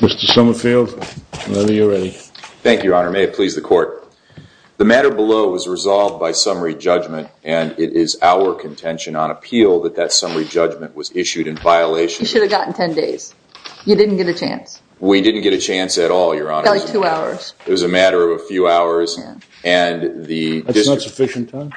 Mr. Summerfield, whenever you're ready. Thank you, your honor. May it please the court. The matter below was resolved by summary judgment, and it is our contention on appeal that that summary judgment was issued in violation. You should have gotten 10 days. You didn't get a chance. We didn't get a chance at all, your honor. Like two hours. It was a matter of a few hours, and the. That's not sufficient time.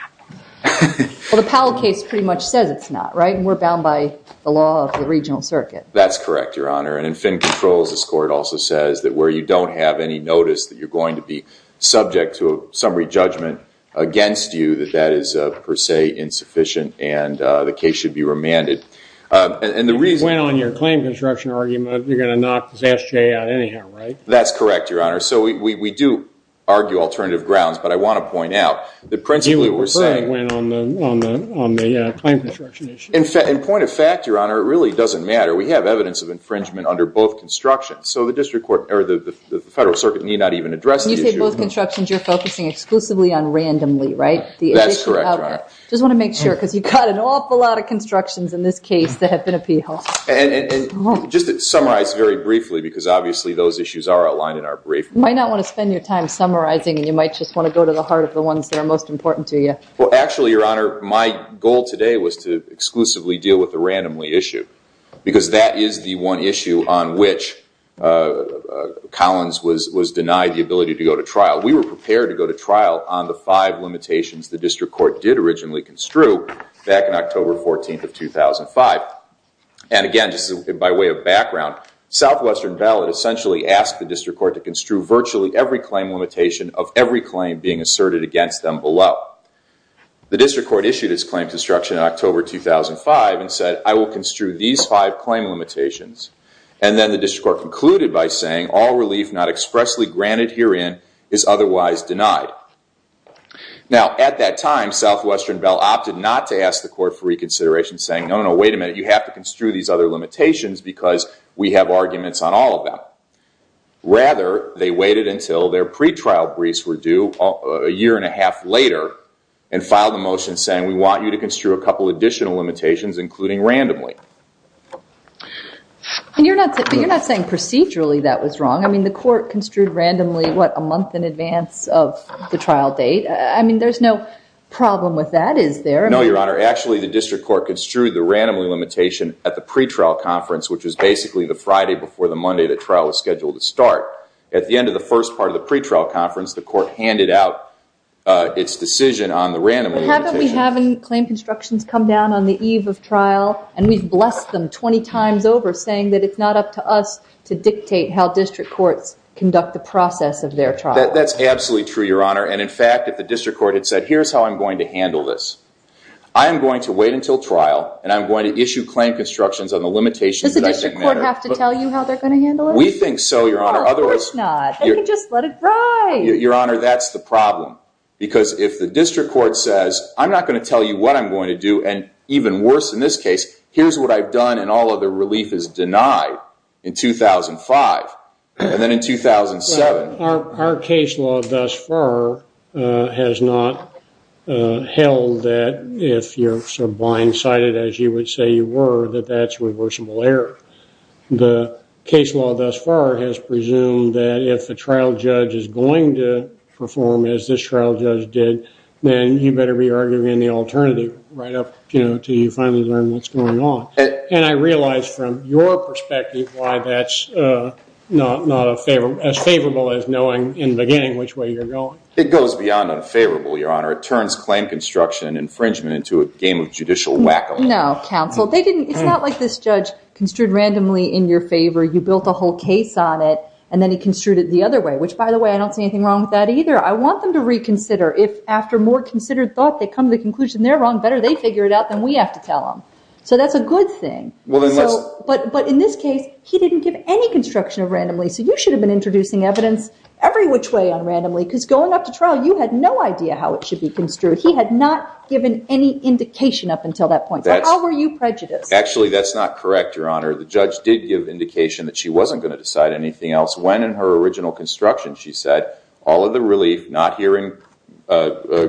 Well, the Powell case pretty much says it's not, right? And we're bound by the law of the regional circuit. That's correct, your honor. And in fin controls, this court also says that where you don't have any notice that you're going to be subject to a summary judgment against you, that that is per se insufficient. And the case should be remanded. And the reason went on your claim construction argument. You're going to knock this out anyhow, right? That's correct, your honor. So we do argue alternative grounds, but I want to point out the principal. We were saying on the on the on the claim construction issue, in fact, in point of fact, your honor, it really doesn't matter. We have evidence of infringement under both constructions. So the district court or the federal circuit need not even address these constructions. You're focusing exclusively on randomly, right? That's correct. Just want to make sure, because you've got an awful lot of constructions in this case that have been appealed and just summarized very briefly, because obviously those issues are aligned in our brief. You might not want to spend your time summarizing, and you might just want to go to the heart of the ones that are most important to you. Well, actually, your honor, my goal today was to exclusively deal with the randomly issue, because that is the one issue on which Collins was denied the ability to go to trial. We were prepared to go to trial on the five limitations the district court did originally construe back in October 14th of 2005. And again, just by way of background, Southwestern Bell had essentially asked the district court to construe virtually every claim limitation of every claim being asserted against them below. The district court issued its claim construction in October 2005 and said, I will construe these five claim limitations. And then the district court concluded by saying, all relief not expressly granted herein is otherwise denied. Now, at that time, Southwestern Bell opted not to ask the court for reconsideration, saying, no, no, wait a minute, you have to construe these other limitations, because we have arguments on all of them. Rather, they waited until their pretrial briefs were due a year and a half later and filed a motion saying, we want you to construe a couple additional limitations, including randomly. And you're not saying procedurally that was wrong. I mean, the court construed randomly, what, a month in advance of the trial date? I mean, there's no problem with that, is there? No, Your Honor. Actually, the district court construed the randomly limitation at the pretrial conference, which was basically the Friday before the Monday the trial was scheduled to start. At the end of the first part of the pretrial conference, the court handed out its decision on the randomly limitation. Haven't we have claim constructions come down on the eve of trial, and we've blessed them 20 times over, saying that it's not up to us to dictate how district courts conduct the process of their trial? That's absolutely true, Your Honor. And in fact, if the district court had said, here's how I'm going to handle this. I am going to wait until trial, and I'm going to issue claim constructions on the limitations that I think matter. Does the district court have to tell you how they're going to handle it? We think so, Your Honor. Of course not, they can just let it ride. Your Honor, that's the problem. Because if the district court says, I'm not going to tell you what I'm going to do, and even worse in this case, here's what I've done and all other relief is denied in 2005, and then in 2007. Our case law thus far has not held that if you're so blindsided as you would say you were, that that's reversible error. The case law thus far has presumed that if a trial judge is going to perform as this trial judge did, then you better be arguing the alternative right up until you finally learn what's going on. And I realize from your perspective why that's not as favorable as knowing in the beginning which way you're going. It goes beyond unfavorable, Your Honor. It turns claim construction and infringement into a game of judicial whack-a-mole. No, counsel, it's not like this judge construed randomly in your favor, you built a whole case on it, and then he construed it the other way, which by the way, I don't see anything wrong with that either. I want them to reconsider. If after more considered thought they come to the conclusion they're wrong, better they figure it out than we have to tell them. So that's a good thing. But in this case, he didn't give any construction of randomly, so you should have been introducing evidence every which way on randomly, because going up to trial, you had no idea how it should be construed. He had not given any indication up until that point. How were you prejudiced? Actually, that's not correct, Your Honor. The judge did give indication that she wasn't going to decide anything else when in her original construction she said, all of the relief not hearing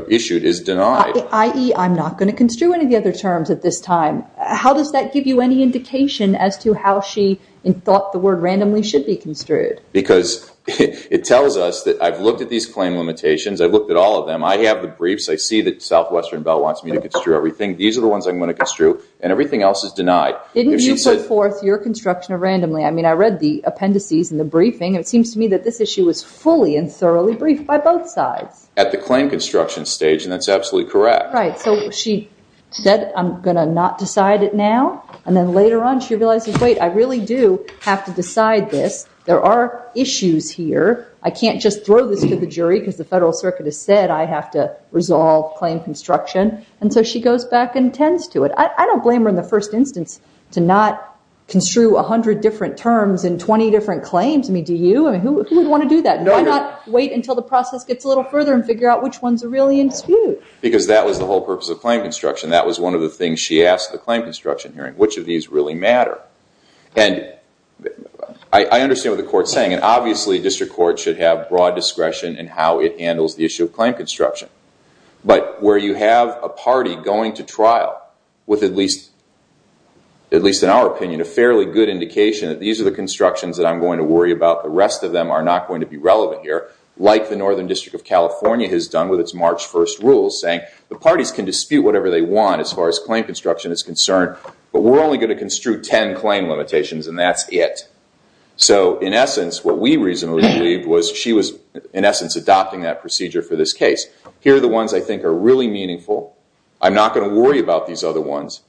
issued is denied. I.e., I'm not going to construe any of the other terms at this time. How does that give you any indication as to how she thought the word randomly should be construed? Because it tells us that I've looked at these claim limitations. I've looked at all of them. I have the briefs. I see that Southwestern Bell wants me to construe everything. These are the ones I'm going to construe, and everything else is denied. Didn't you put forth your construction of randomly? I mean, I read the appendices in the briefing, and it seems to me that this issue was fully and thoroughly briefed by both sides. At the claim construction stage, and that's absolutely correct. Right, so she said, I'm going to not decide it now. And then later on, she realizes, wait, I really do have to decide this. There are issues here. I can't just throw this to the jury because the Federal Circuit has said I have to resolve claim construction. And so she goes back and tends to it. I don't blame her in the first instance to not construe 100 different terms in 20 different claims. I mean, do you? I mean, who would want to do that? Why not wait until the process gets a little further and figure out which ones are really in dispute? Because that was the whole purpose of claim construction. That was one of the things she asked the claim construction hearing, which of these really matter? And I understand what the court's saying. And obviously, district courts should have broad discretion in how it handles the issue of claim construction. But where you have a party going to trial with at least, in our opinion, a fairly good indication that these are the constructions that I'm going to worry about, the rest of them are not going to be relevant here, like the Northern District of California has done with its March 1 rules, saying the parties can dispute whatever they want as far as claim construction is concerned. But we're only going to construe 10 claim limitations, and that's it. So in essence, what we reasonably believed was she was, in essence, adopting that procedure for this case. Here are the ones I think are really meaningful. I'm not going to worry about these other ones.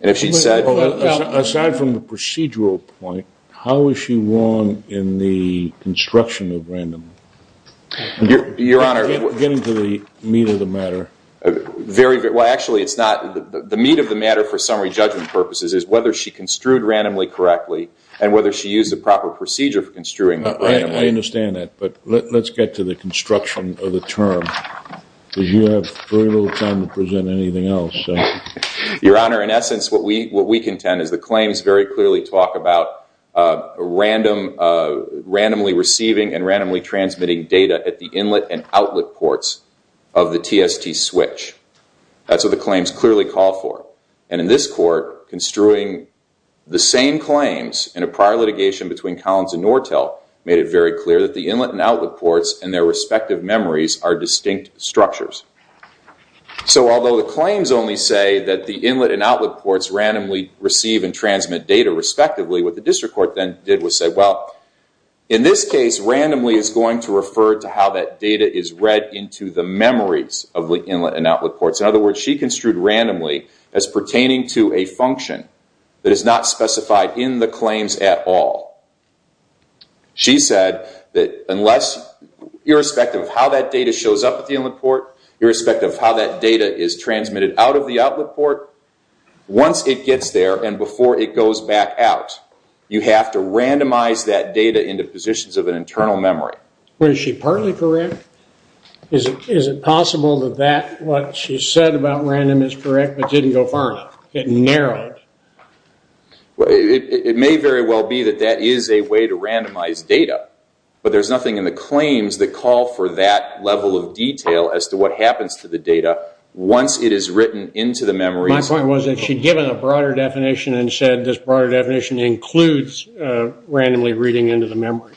And if she'd said- Aside from the procedural point, how is she wrong in the construction of random? Your Honor- Getting to the meat of the matter. Very- well, actually, it's not- the meat of the matter, for summary judgment purposes, is whether she construed randomly correctly and whether she used the proper procedure for construing that randomly. I understand that, but let's get to the construction of the term, because you have very little time to present anything else. Your Honor, in essence, what we contend is the claims very clearly talk about randomly receiving and randomly transmitting data at the inlet and outlet ports of the TST switch. That's what the claims clearly call for. And in this court, construing the same claims in a prior litigation between Collins and Nortel made it very clear that the inlet and outlet ports and their respective memories are distinct structures. So although the claims only say that the inlet and outlet ports randomly receive and transmit data respectively, what the district court then did was say, well, in this case, randomly is going to refer to how that data is read into the memories of the inlet and outlet ports. In other words, she construed randomly as pertaining to a function that is not specified in the claims at all. She said that unless- irrespective of how that data shows up at the inlet port, irrespective of how that data is transmitted out of the outlet port, once it gets there and before it goes back out, you have to randomize that data into positions of an internal memory. Was she partly correct? Is it possible that that, what she said about random is correct, but didn't go far enough? It narrowed? It may very well be that that is a way to randomize data. But there's nothing in the claims that call for that level of detail as to what happens to the data once it is written into the memories. My point was that she'd given a broader definition and said this broader definition includes randomly reading into the memory.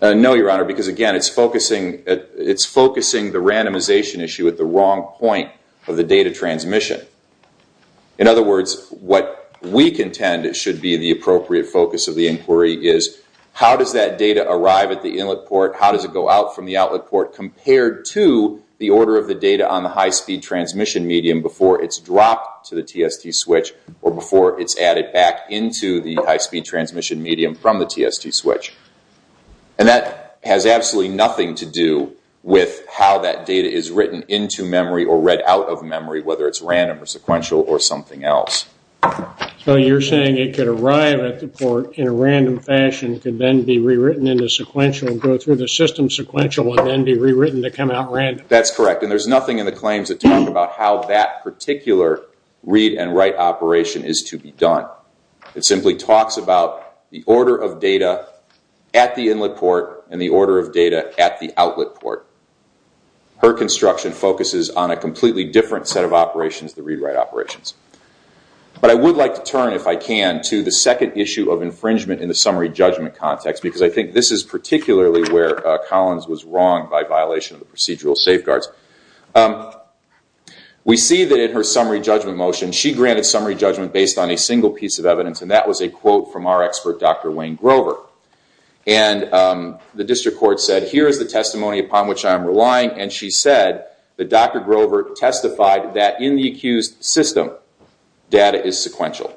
No, Your Honor, because again, it's focusing the randomization issue at the wrong point of the data transmission. In other words, what we contend should be the appropriate focus of the inquiry is how does that data arrive at the inlet port? How does it go out from the outlet port compared to the order of the data on the high-speed transmission medium before it's dropped to the TST switch or before it's added back into the high-speed transmission medium from the TST switch? And that has absolutely nothing to do with how that data is written into memory or read out of memory, whether it's random or sequential or something else. So you're saying it could arrive at the port in a random fashion, could then be rewritten into sequential, go through the system sequential, and then be rewritten to come out random? That's correct. And there's nothing in the claims that talk about how that particular read and write operation is to be done. It simply talks about the order of data at the inlet port and the order of data at the outlet port. Her construction focuses on a completely different set of operations, the rewrite operations. But I would like to turn, if I can, to the second issue of infringement in the summary judgment context, because I think this is particularly where Collins was wrong by violation of the procedural safeguards. We see that in her summary judgment motion, she granted summary judgment based on a single piece of evidence, and that was a quote from our expert, Dr. Wayne Grover. And the district court said, here is the testimony upon which I am relying, and she said that Dr. Grover testified that in the accused system, data is sequential.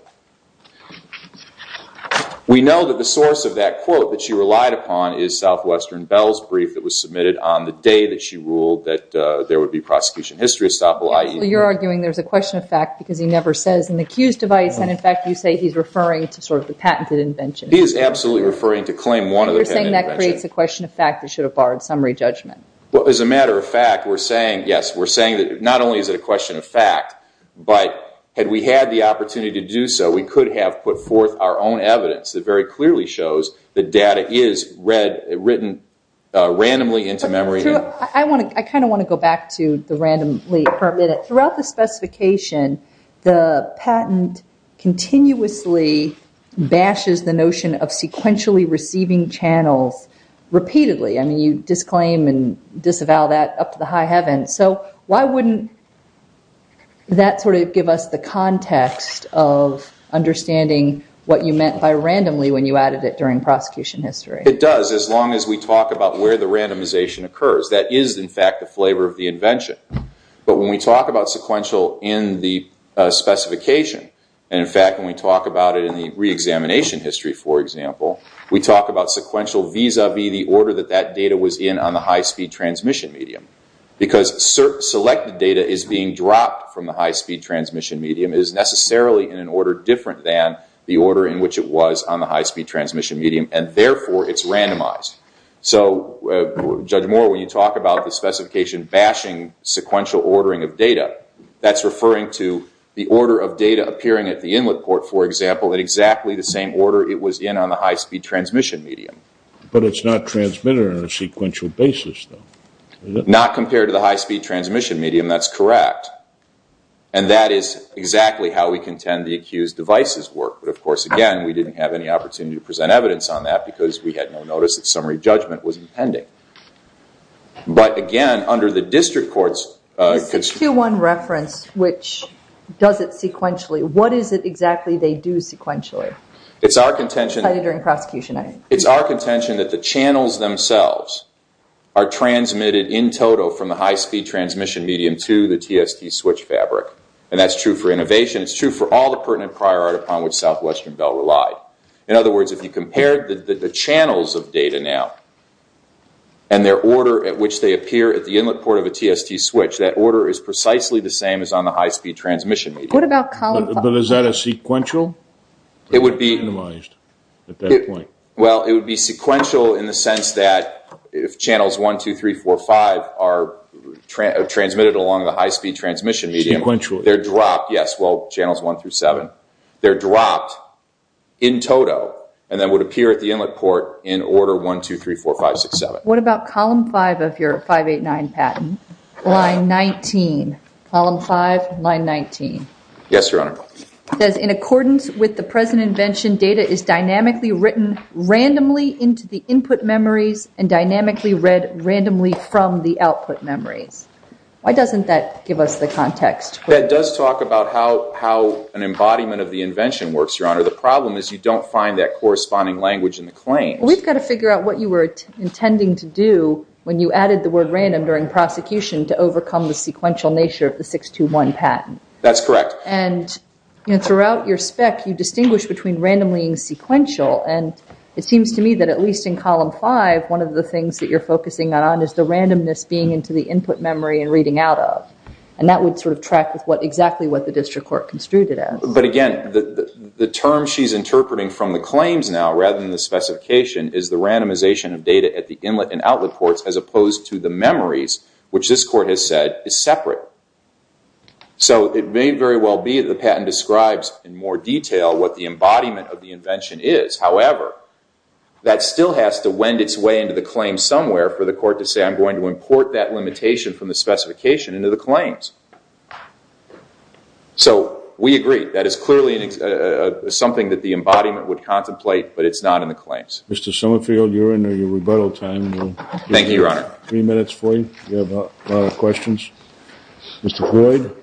We know that the source of that quote that she relied upon is Southwestern Bell's brief that was submitted on the day that she ruled that there would be prosecution history estoppel, i.e. You're arguing there's a question of fact because he never says in the accused device, and in fact you say he's referring to sort of the patented invention. He is absolutely referring to claim one of the patent inventions. You're saying that creates a question of fact that should have barred summary judgment. Well, as a matter of fact, we're saying, yes, we're saying that not only is it a question of fact, but had we had the opportunity to do so, we could have put forth our own evidence that very clearly shows that data is written randomly into memory. I kind of want to go back to the randomly for a minute. Throughout the specification, the patent continuously bashes the notion of sequentially receiving channels repeatedly. I mean, you disclaim and disavow that up to the high heavens, so why wouldn't that sort of give us the context of understanding what you meant by randomly when you added it during prosecution history? I think it does, as long as we talk about where the randomization occurs. That is, in fact, the flavor of the invention. But when we talk about sequential in the specification, and in fact when we talk about it in the reexamination history, for example, we talk about sequential vis-a-vis the order that that data was in on the high-speed transmission medium. Because selected data is being dropped from the high-speed transmission medium. It is necessarily in an order different than the order in which it was on the high-speed transmission medium, and therefore it's randomized. So, Judge Moore, when you talk about the specification bashing sequential ordering of data, that's referring to the order of data appearing at the inlet port, for example, in exactly the same order it was in on the high-speed transmission medium. But it's not transmitted on a sequential basis, though. Not compared to the high-speed transmission medium, that's correct. And that is exactly how we contend the accused devices work. But, of course, again, we didn't have any opportunity to present evidence on that because we had no notice that summary judgment was pending. But, again, under the district court's... The 621 reference, which does it sequentially, what is it exactly they do sequentially? It's our contention... During prosecution. It's our contention that the channels themselves are transmitted in total from the high-speed transmission medium to the TST switch fabric. And that's true for innovation. It's true for all the pertinent prior art upon which Southwestern Bell relied. In other words, if you compared the channels of data now and their order at which they appear at the inlet port of a TST switch, that order is precisely the same as on the high-speed transmission medium. But is that a sequential? It would be... Minimized at that point. Well, it would be sequential in the sense that if channels 1, 2, 3, 4, 5 are transmitted along the high-speed transmission medium... Sequentially. They're dropped, yes, well, channels 1 through 7. They're dropped in total and then would appear at the inlet port in order 1, 2, 3, 4, 5, 6, 7. What about column 5 of your 589 patent, line 19? Column 5, line 19. Yes, Your Honor. It says, in accordance with the present invention, data is dynamically written randomly into the input memories and dynamically read randomly from the output memories. Why doesn't that give us the context? That does talk about how an embodiment of the invention works, Your Honor. The problem is you don't find that corresponding language in the claims. We've got to figure out what you were intending to do when you added the word random during prosecution to overcome the sequential nature of the 621 patent. That's correct. And throughout your spec, you distinguish between randomly and sequential. And it seems to me that at least in column 5, one of the things that you're focusing on is the randomness being into the input memory and reading out of. And that would sort of track exactly what the district court construed it as. But, again, the term she's interpreting from the claims now rather than the specification is the randomization of data at the inlet and outlet ports as opposed to the memories, which this court has said is separate. So it may very well be that the patent describes in more detail what the embodiment of the invention is. However, that still has to wend its way into the claim somewhere for the court to say I'm going to import that limitation from the specification into the claims. So we agree. That is clearly something that the embodiment would contemplate, but it's not in the claims. Mr. Summerfield, you're in your rebuttal time. Thank you, Your Honor. Three minutes for you. You have a lot of questions. Mr. Floyd.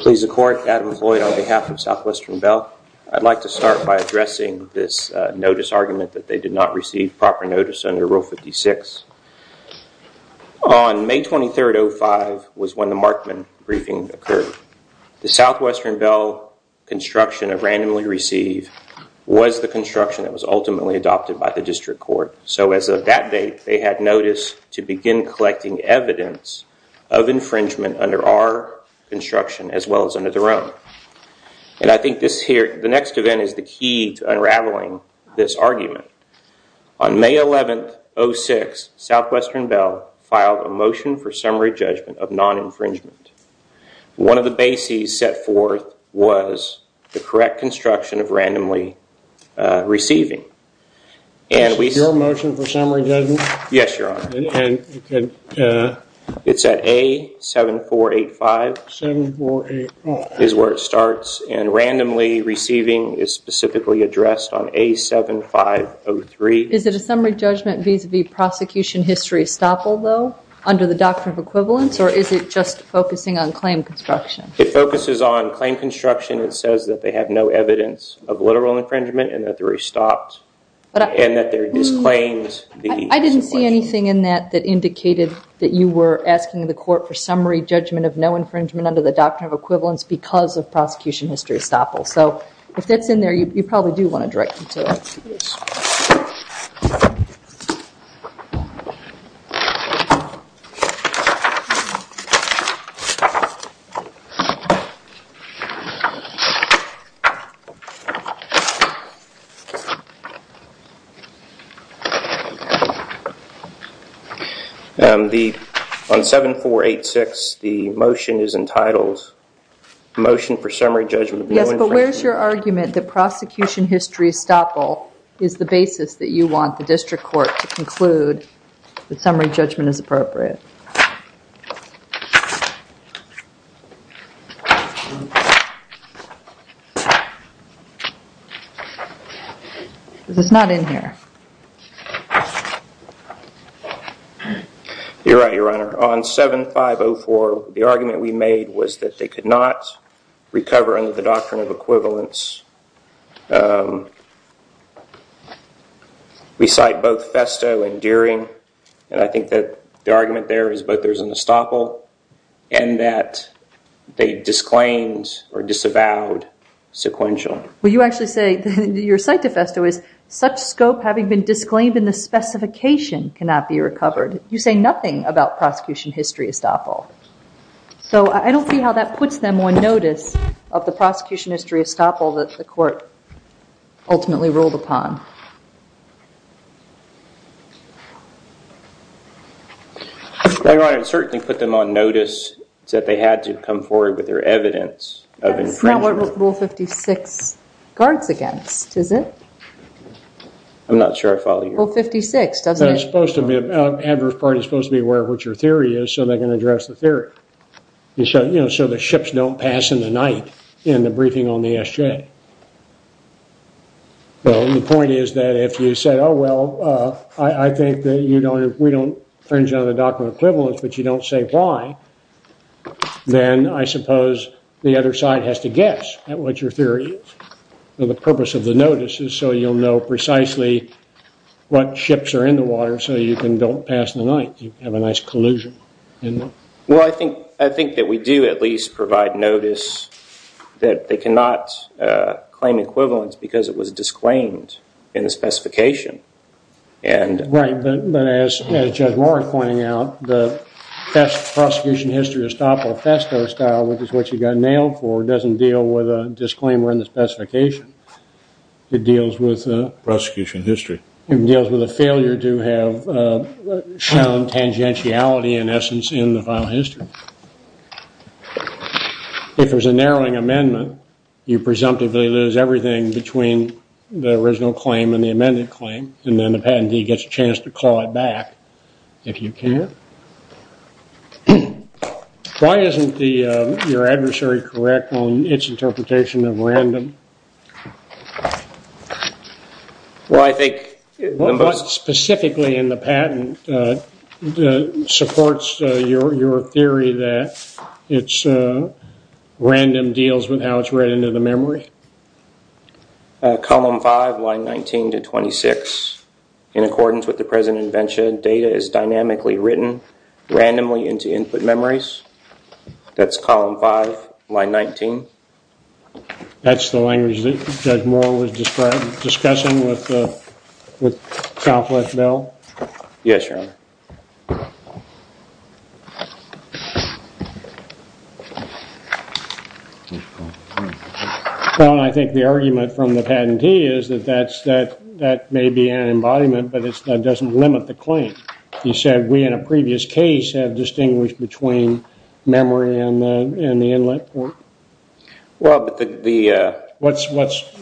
Please, the court. Adam Floyd on behalf of Southwestern Bell. I'd like to start by addressing this notice argument that they did not receive proper notice under Rule 56. On May 23, 2005, was when the Markman briefing occurred. The Southwestern Bell construction of randomly received was the construction that was ultimately adopted by the district court. So as of that date, they had notice to begin collecting evidence of infringement under our construction as well as under their own. And I think the next event is the key to unraveling this argument. On May 11th, 06, Southwestern Bell filed a motion for summary judgment of non-infringement. One of the bases set forth was the correct construction of randomly receiving. Is this your motion for summary judgment? Yes, Your Honor. It's at A-7485. Is where it starts. And randomly receiving is specifically addressed on A-7503. Is it a summary judgment vis-a-vis prosecution history estoppel, though, under the doctrine of equivalence? Or is it just focusing on claim construction? It focuses on claim construction. It says that they have no evidence of literal infringement and that they were stopped and that they're disclaimed. I didn't see anything in that that indicated that you were asking the court for summary judgment of no infringement under the doctrine of equivalence because of prosecution history estoppel. So if that's in there, you probably do want to direct me to it. On A-7486, the motion is entitled motion for summary judgment of no infringement. Yes, but where's your argument that prosecution history estoppel is the basis that you want the district court to conclude that summary judgment is appropriate? It's not in here. You're right, Your Honor. On A-7504, the argument we made was that they could not recover under the doctrine of equivalence. We cite both Festo and Deering. And I think that the argument there is both there's an estoppel and that they disclaimed or disavowed sequential. Well, you actually say your cite to Festo is such scope having been disclaimed in the specification cannot be recovered. You say nothing about prosecution history estoppel. So I don't see how that puts them on notice of the prosecution history estoppel that the court ultimately ruled upon. Your Honor, it certainly put them on notice that they had to come forward with their evidence of infringement. Your Honor, what rule 56 guards against, is it? I'm not sure I follow you. Rule 56, doesn't it? It's supposed to be, adverse parties are supposed to be aware of what your theory is so they can address the theory. You know, so the ships don't pass in the night in the briefing on the SJ. Well, the point is that if you say, oh, well, I think that we don't infringe on the doctrine of equivalence, but you don't say why, then I suppose the other side has to guess at what your theory is. The purpose of the notice is so you'll know precisely what ships are in the water so you can don't pass in the night. You have a nice collusion. Well, I think that we do at least provide notice that they cannot claim equivalence because it was disclaimed in the specification. Right, but as Judge Morris pointed out, the prosecution history estoppel festo style, which is what you got nailed for, doesn't deal with a disclaimer in the specification. It deals with a... Prosecution history. It deals with a failure to have shown tangentiality in essence in the file history. If there's a narrowing amendment, you presumptively lose everything between the original claim and the amended claim, and then the patentee gets a chance to call it back if you can. Why isn't your adversary correct on its interpretation of random? Well, I think... What specifically in the patent supports your theory that it's random deals with how it's read into the memory? Column 5, line 19 to 26. In accordance with the present invention, data is dynamically written randomly into input memories. That's column 5, line 19. That's the language that Judge Morris was discussing with Count Fletch Bell? Yes, Your Honor. Well, I think the argument from the patentee is that that may be an embodiment, but it doesn't limit the claim. He said we, in a previous case, have distinguished between memory and the inlet port. Well, but the...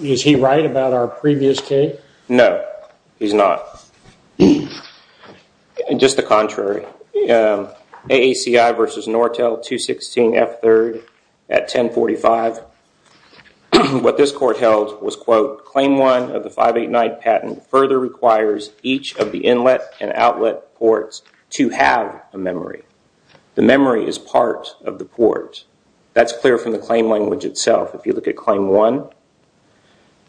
Is he right about our previous case? No, he's not. Just the contrary. AACI versus Nortel 216F3 at 1045. What this court held was, quote, Claim 1 of the 589 patent further requires each of the inlet and outlet ports to have a memory. The memory is part of the port. That's clear from the claim language itself. If you look at claim 1,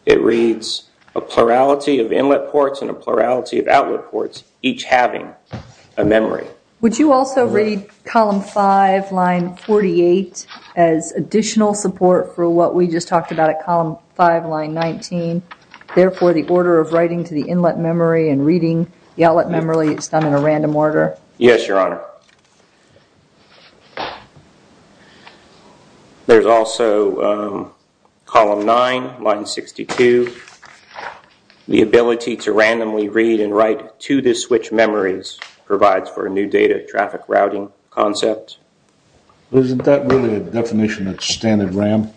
it reads a plurality of inlet ports and a plurality of outlet ports, each having a memory. Would you also read column 5, line 48, as additional support for what we just talked about at column 5, line 19? Therefore, the order of writing to the inlet memory and reading the outlet memory is done in a random order? Yes, Your Honor. There's also column 9, line 62. The ability to randomly read and write to the switch memories provides for a new data traffic routing concept. Isn't that really a definition of standard RAM?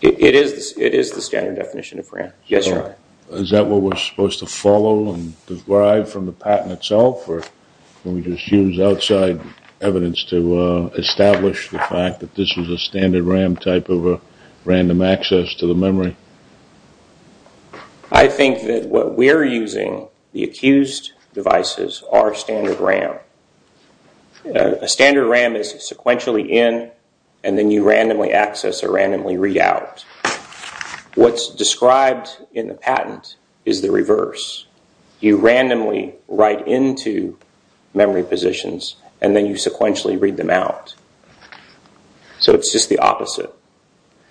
It is the standard definition of RAM. Yes, Your Honor. Is that what we're supposed to follow and derive from the patent itself, or can we just use outside evidence to establish the fact that this is a standard RAM type of a random access to the memory? I think that what we're using, the accused devices, are standard RAM. A standard RAM is sequentially in, and then you randomly access or randomly read out. What's described in the patent is the reverse. You randomly write into memory positions, and then you sequentially read them out. It's just the opposite.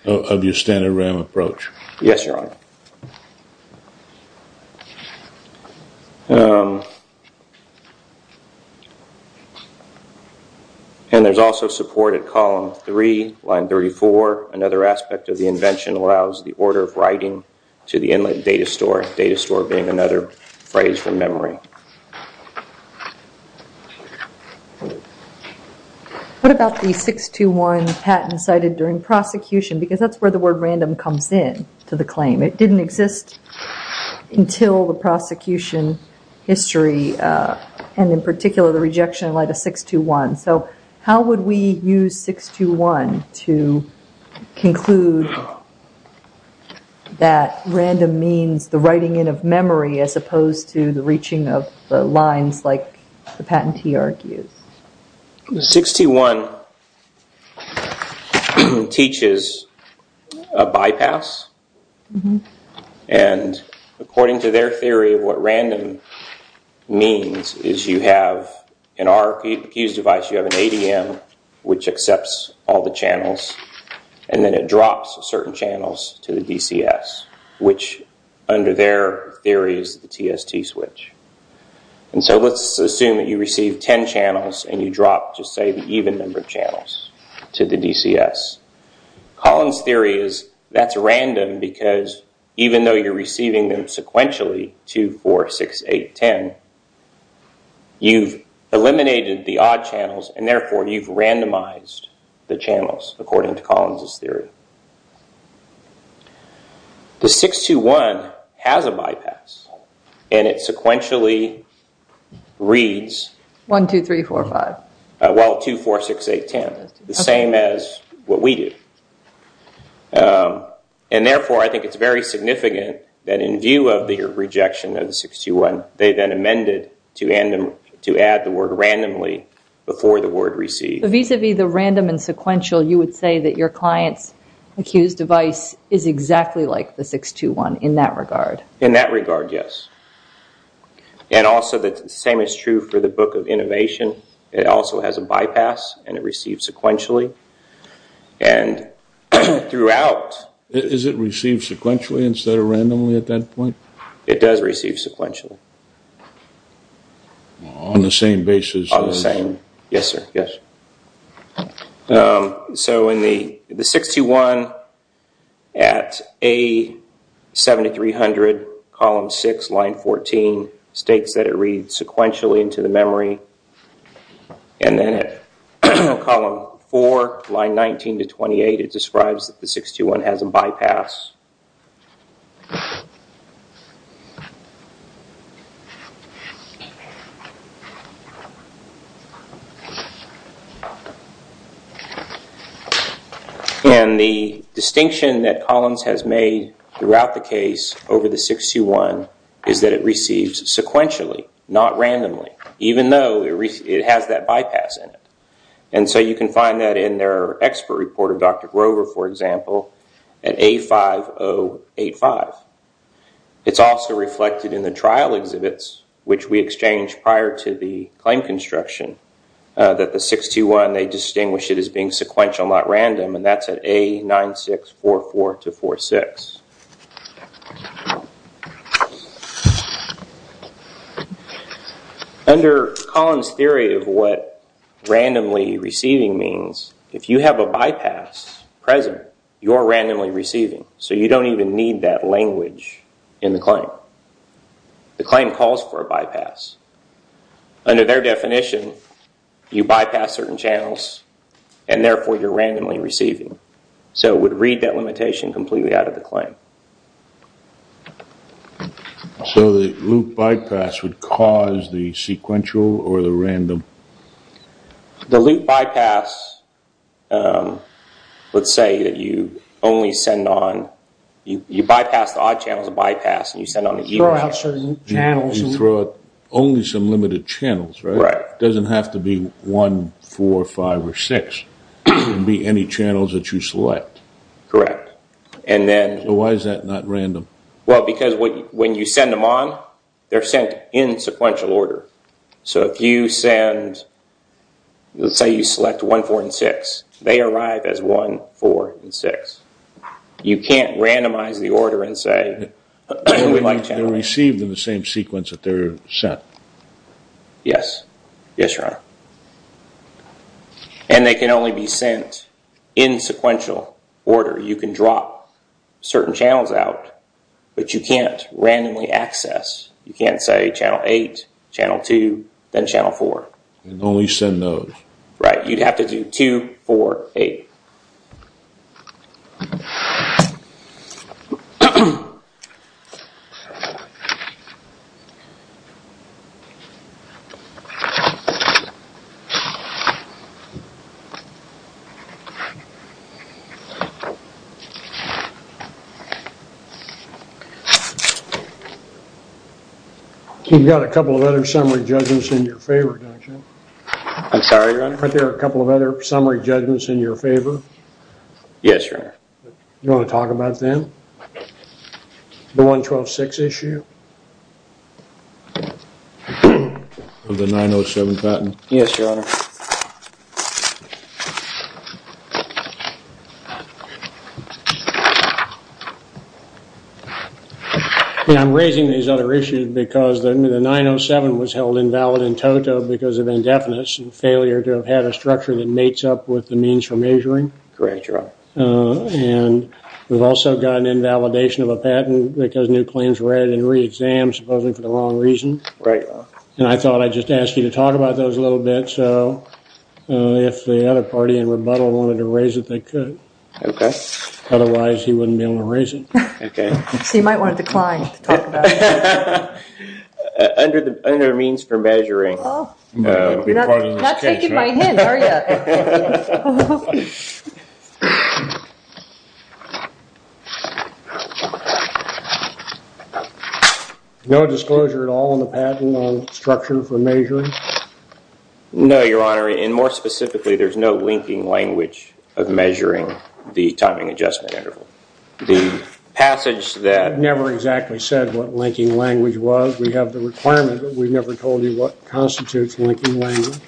Of your standard RAM approach? Yes, Your Honor. There's also support at column 3, line 34. Another aspect of the invention allows the order of writing to the inlet data store, data store being another phrase for memory. What about the 621 patent cited during prosecution? Because that's where the word random comes in to the claim. It didn't exist until the prosecution history, and in particular the rejection in light of 621. How would we use 621 to conclude that random means the writing in of memory, as opposed to the reaching of the lines like the patentee argues? 621 teaches a bypass, and according to their theory, what random means is you have, in our accused device, you have an ADM which accepts all the channels, and then it drops certain channels to the DCS, which under their theory is the TST switch. Let's assume that you receive 10 channels, and you drop just say the even number of channels to the DCS. Collins' theory is that's random because even though you're receiving them sequentially, 2, 4, 6, 8, 10, you've eliminated the odd channels, and therefore you've randomized the channels according to Collins' theory. The 621 has a bypass, and it sequentially reads... 1, 2, 3, 4, 5. Well, 2, 4, 6, 8, 10. The same as what we do, and therefore I think it's very significant that in view of the rejection of the 621, they then amended to add the word randomly before the word received. Vis-a-vis the random and sequential, you would say that your client's accused device is exactly like the 621 in that regard. In that regard, yes, and also the same is true for the book of innovation. It also has a bypass, and it receives sequentially, and throughout... Is it received sequentially instead of randomly at that point? It does receive sequentially. On the same basis? On the same. Yes, sir. Yes. So in the 621 at A7300, column 6, line 14, states that it reads sequentially into the memory, and then at column 4, line 19 to 28, it describes that the 621 has a bypass. And the distinction that Collins has made throughout the case over the 621 is that it receives sequentially, not randomly, even though it has that bypass in it. And so you can find that in their expert report of Dr. Grover, for example, at A5085. It's also reflected in the trial exhibits, which we exchanged prior to the claim construction, that the 621, they distinguish it as being sequential, not random, and that's at A9644-46. Under Collins' theory of what randomly receiving means, if you have a bypass present, you're randomly receiving, so you don't even need that language in the claim. The claim calls for a bypass. Under their definition, you bypass certain channels, and therefore you're randomly receiving. So it would read that limitation completely out of the claim. So the loop bypass would cause the sequential or the random? The loop bypass, let's say that you only send on, you bypass the odd channels and bypass, and you send on the even channels. You throw out certain channels. You throw out only some limited channels, right? Right. It doesn't have to be 1, 4, 5, or 6. It can be any channels that you select. Correct. So why is that not random? Well, because when you send them on, they're sent in sequential order. So if you send, let's say you select 1, 4, and 6, they arrive as 1, 4, and 6. You can't randomize the order and say... They're received in the same sequence that they're sent. Yes. Yes, Your Honor. And they can only be sent in sequential order. You can drop certain channels out, but you can't randomly access. You can't say channel 8, channel 2, then channel 4. And only send those. Right. You'd have to do 2, 4, 8. You've got a couple of other summary judgments in your favor, don't you? I'm sorry, Your Honor? Aren't there a couple of other summary judgments in your favor? Yes, Your Honor. You want to talk about them? The 1, 12, 6 issue? Yes, Your Honor. Okay. I'm raising these other issues because the 907 was held invalid in toto because of indefinite failure to have had a structure that mates up with the means for measuring. Correct, Your Honor. And we've also got an invalidation of a patent because new claims were added and reexamined, supposedly for the wrong reason. Right, Your Honor. And I thought I'd just ask you to talk about those a little bit. So if the other party in rebuttal wanted to raise it, they could. Okay. Otherwise, he wouldn't be able to raise it. Okay. So you might want to decline to talk about it. Under the means for measuring. Not taking my hint, are you? Okay. No disclosure at all on the patent on structure for measuring? No, Your Honor. And more specifically, there's no linking language of measuring the timing adjustment interval. The passage that... We've never exactly said what linking language was. We have the requirement, but we've never told you what constitutes linking language.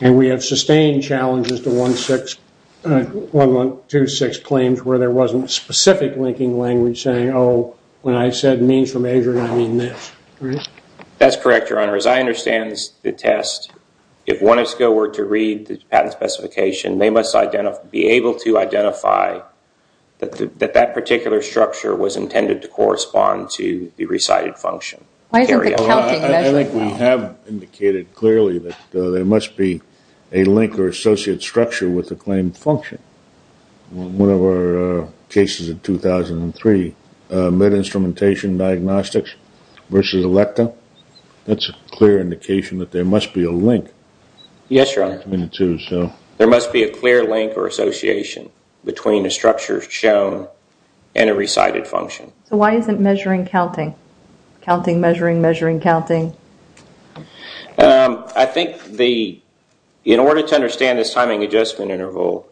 And we have sustained challenges to 126 claims where there wasn't a specific linking language saying, oh, when I said means for measuring, I mean this. Right? That's correct, Your Honor. As I understand the test, if one is to go to read the patent specification, they must be able to identify that that particular structure was intended to correspond to the recited function. Why isn't the counting measured? I think we have indicated clearly that there must be a link or associated structure with the claimed function. One of our cases in 2003, med instrumentation diagnostics versus electa, that's a clear indication that there must be a link. Yes, Your Honor. There must be a clear link or association between a structure shown and a recited function. So why isn't measuring counting? Counting, measuring, measuring, counting. I think in order to understand this timing adjustment interval,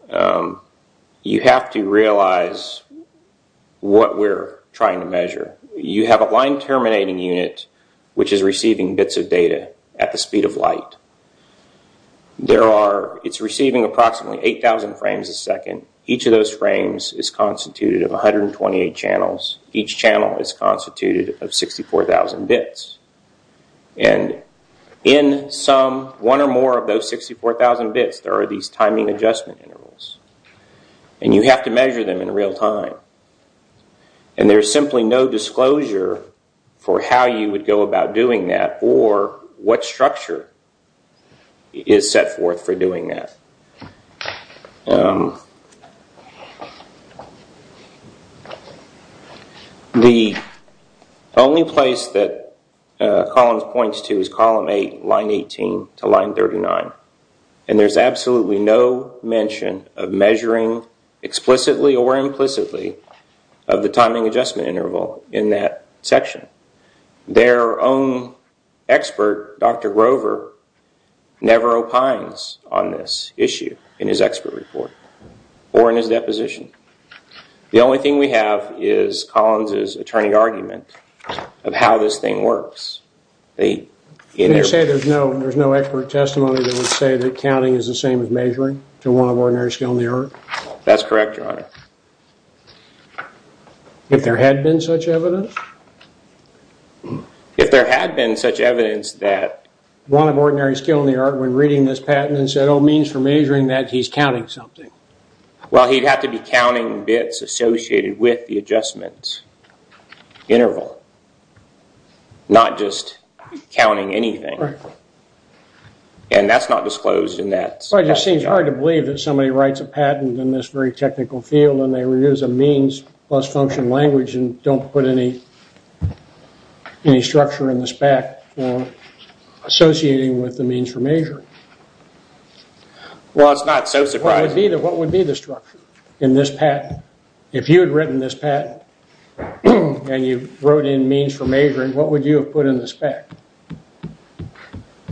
you have to realize what we're trying to measure. You have a line terminating unit, which is receiving bits of data at the speed of light. It's receiving approximately 8,000 frames a second. Each of those frames is constituted of 128 channels. Each channel is constituted of 64,000 bits. In some, one or more of those 64,000 bits, there are these timing adjustment intervals. You have to measure them in real time. There's simply no disclosure for how you would go about doing that or what structure is set forth for doing that. The only place that Collins points to is column 8, line 18 to line 39. There's absolutely no mention of measuring explicitly or implicitly of the timing adjustment interval in that section. Their own expert, Dr. Grover, never opines on this issue in his expert report or in his deposition. The only thing we have is Collins' attorney argument of how this thing works. Can you say there's no expert testimony that would say that counting is the same as measuring to one of ordinary skill in the art? That's correct, Your Honor. If there had been such evidence? If there had been such evidence that one of ordinary skill in the art when reading this patent and said, oh, it means for measuring that, he's counting something. Well, he'd have to be counting bits associated with the adjustment interval, not just counting anything. And that's not disclosed in that. It just seems hard to believe that somebody writes a patent in this very technical field and they use a means plus function language and don't put any structure in the spec or associating with the means for measuring. Well, it's not so surprising. What would be the structure in this patent? If you had written this patent and you wrote in means for measuring, what would you have put in the spec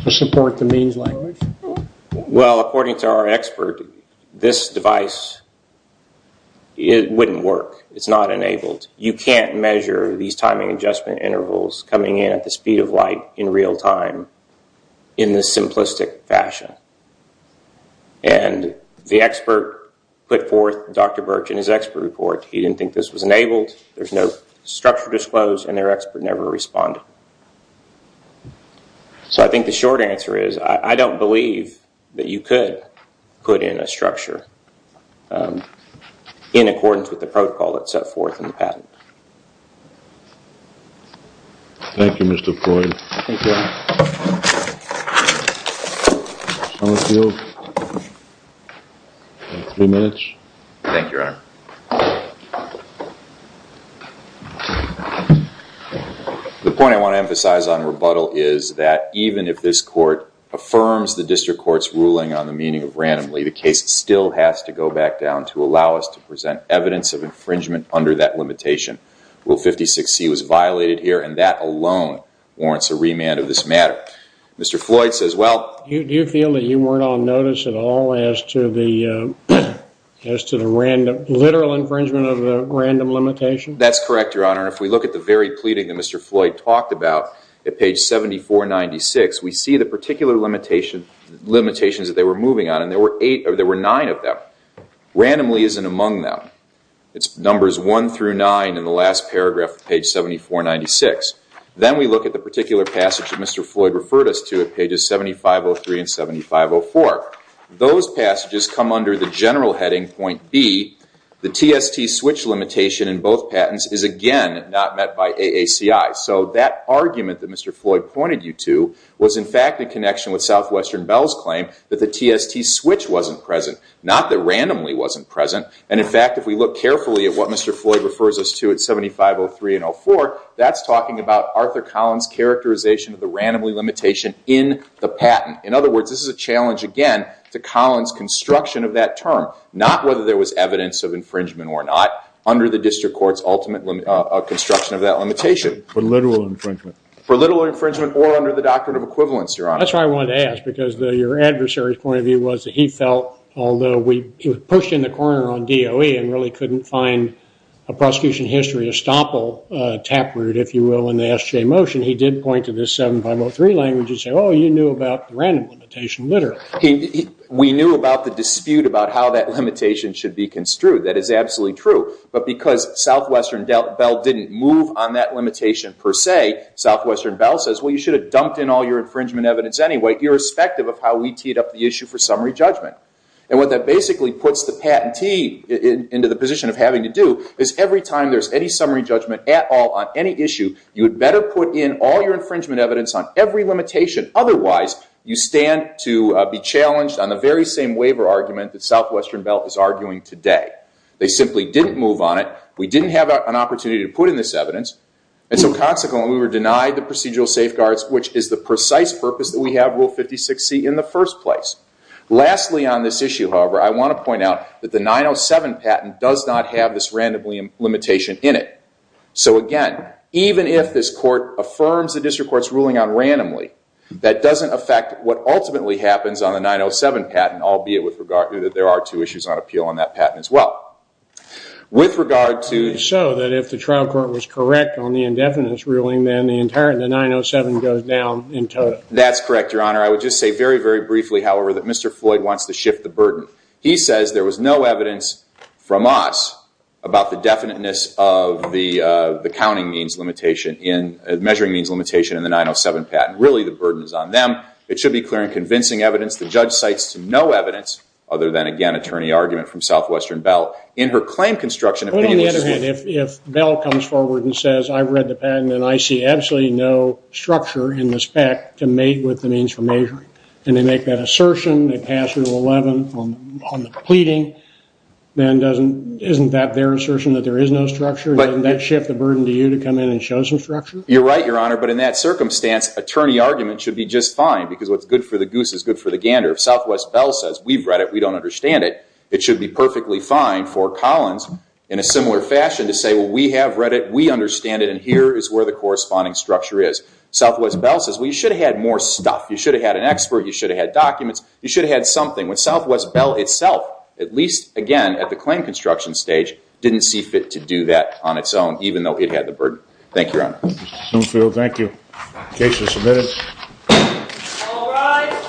to support the means language? Well, according to our expert, this device wouldn't work. It's not enabled. You can't measure these timing adjustment intervals coming in at the speed of light in real time in this simplistic fashion. And the expert put forth, Dr. Birch, in his expert report, he didn't think this was enabled. There's no structure disclosed and their expert never responded. So I think the short answer is I don't believe that you could put in a structure in accordance with the protocol that's set forth in the patent. Thank you, Mr. Pruitt. Thank you. How much do you owe? Three minutes. Thank you, Your Honor. The point I want to emphasize on rebuttal is that even if this court affirms the district court's ruling on the meaning of randomly, the case still has to go back down to allow us to present evidence of infringement under that limitation. Rule 56C was violated here, and that alone warrants a remand of this matter. Mr. Floyd says, well, Do you feel that you weren't on notice at all as to the literal infringement of the random limitation? That's correct, Your Honor. If we look at the very pleading that Mr. Floyd talked about at page 7496, we see the particular limitations that they were moving on, and there were nine of them. Randomly isn't among them. It's numbers one through nine in the last paragraph of page 7496. Then we look at the particular passage that Mr. Floyd referred us to at pages 7503 and 7504. Those passages come under the general heading point B. The TST switch limitation in both patents is, again, not met by AACI. So that argument that Mr. Floyd pointed you to was, in fact, in connection with Southwestern Bell's claim that the TST switch wasn't present, not that randomly wasn't present. And, in fact, if we look carefully at what Mr. Floyd refers us to at 7503 and 004, that's talking about Arthur Collins' characterization of the randomly limitation in the patent. In other words, this is a challenge, again, to Collins' construction of that term, not whether there was evidence of infringement or not, under the district court's ultimate construction of that limitation. For literal infringement. For literal infringement or under the doctrine of equivalence, Your Honor. That's what I wanted to ask, because your adversary's point of view was that he felt, although we pushed in the corner on DOE and really couldn't find a prosecution history to estoppel Taproot, if you will, in the SJ motion, he did point to this 7503 language and say, oh, you knew about the random limitation, literally. We knew about the dispute about how that limitation should be construed. That is absolutely true. But because Southwestern Bell didn't move on that limitation per se, Southwestern Bell says, well, you should have dumped in all your infringement evidence anyway, irrespective of how we teed up the issue for summary judgment. And what that basically puts the patentee into the position of having to do is every time there's any summary judgment at all on any issue, you had better put in all your infringement evidence on every limitation. Otherwise, you stand to be challenged on the very same waiver argument that Southwestern Bell is arguing today. They simply didn't move on it. We didn't have an opportunity to put in this evidence. And so consequently, we were denied the procedural safeguards, which is the precise purpose that we have Rule 56C in the first place. Lastly on this issue, however, I want to point out that the 907 patent does not have this random limitation in it. So again, even if this court affirms the district court's ruling on randomly, that doesn't affect what ultimately happens on the 907 patent, albeit that there are two issues on appeal on that patent as well. With regard to- So that if the trial court was correct on the indefinite ruling, then the entire 907 goes down in total. That's correct, Your Honor. I would just say very, very briefly, however, that Mr. Floyd wants to shift the burden. He says there was no evidence from us about the definiteness of the counting means limitation in- measuring means limitation in the 907 patent. Really, the burden is on them. It should be clear and convincing evidence. The judge cites no evidence other than, again, attorney argument from Southwestern Bell. In her claim construction- On the other hand, if Bell comes forward and says, I've read the patent and I see absolutely no structure in the spec to mate with the means for measuring, and they make that assertion, they pass Rule 11 on the pleading, then isn't that their assertion that there is no structure? Doesn't that shift the burden to you to come in and show some structure? You're right, Your Honor, but in that circumstance, attorney argument should be just fine because what's good for the goose is good for the gander. If Southwest Bell says, we've read it, we don't understand it, it should be perfectly fine for Collins, in a similar fashion, to say, well, we have read it, we understand it, and here is where the corresponding structure is. Southwest Bell says, well, you should have had more stuff. You should have had an expert. You should have had documents. You should have had something. When Southwest Bell itself, at least, again, at the claim construction stage, didn't see fit to do that on its own, even though it had the burden. Thank you, Your Honor. Bloomfield, thank you. Case is submitted. All rise.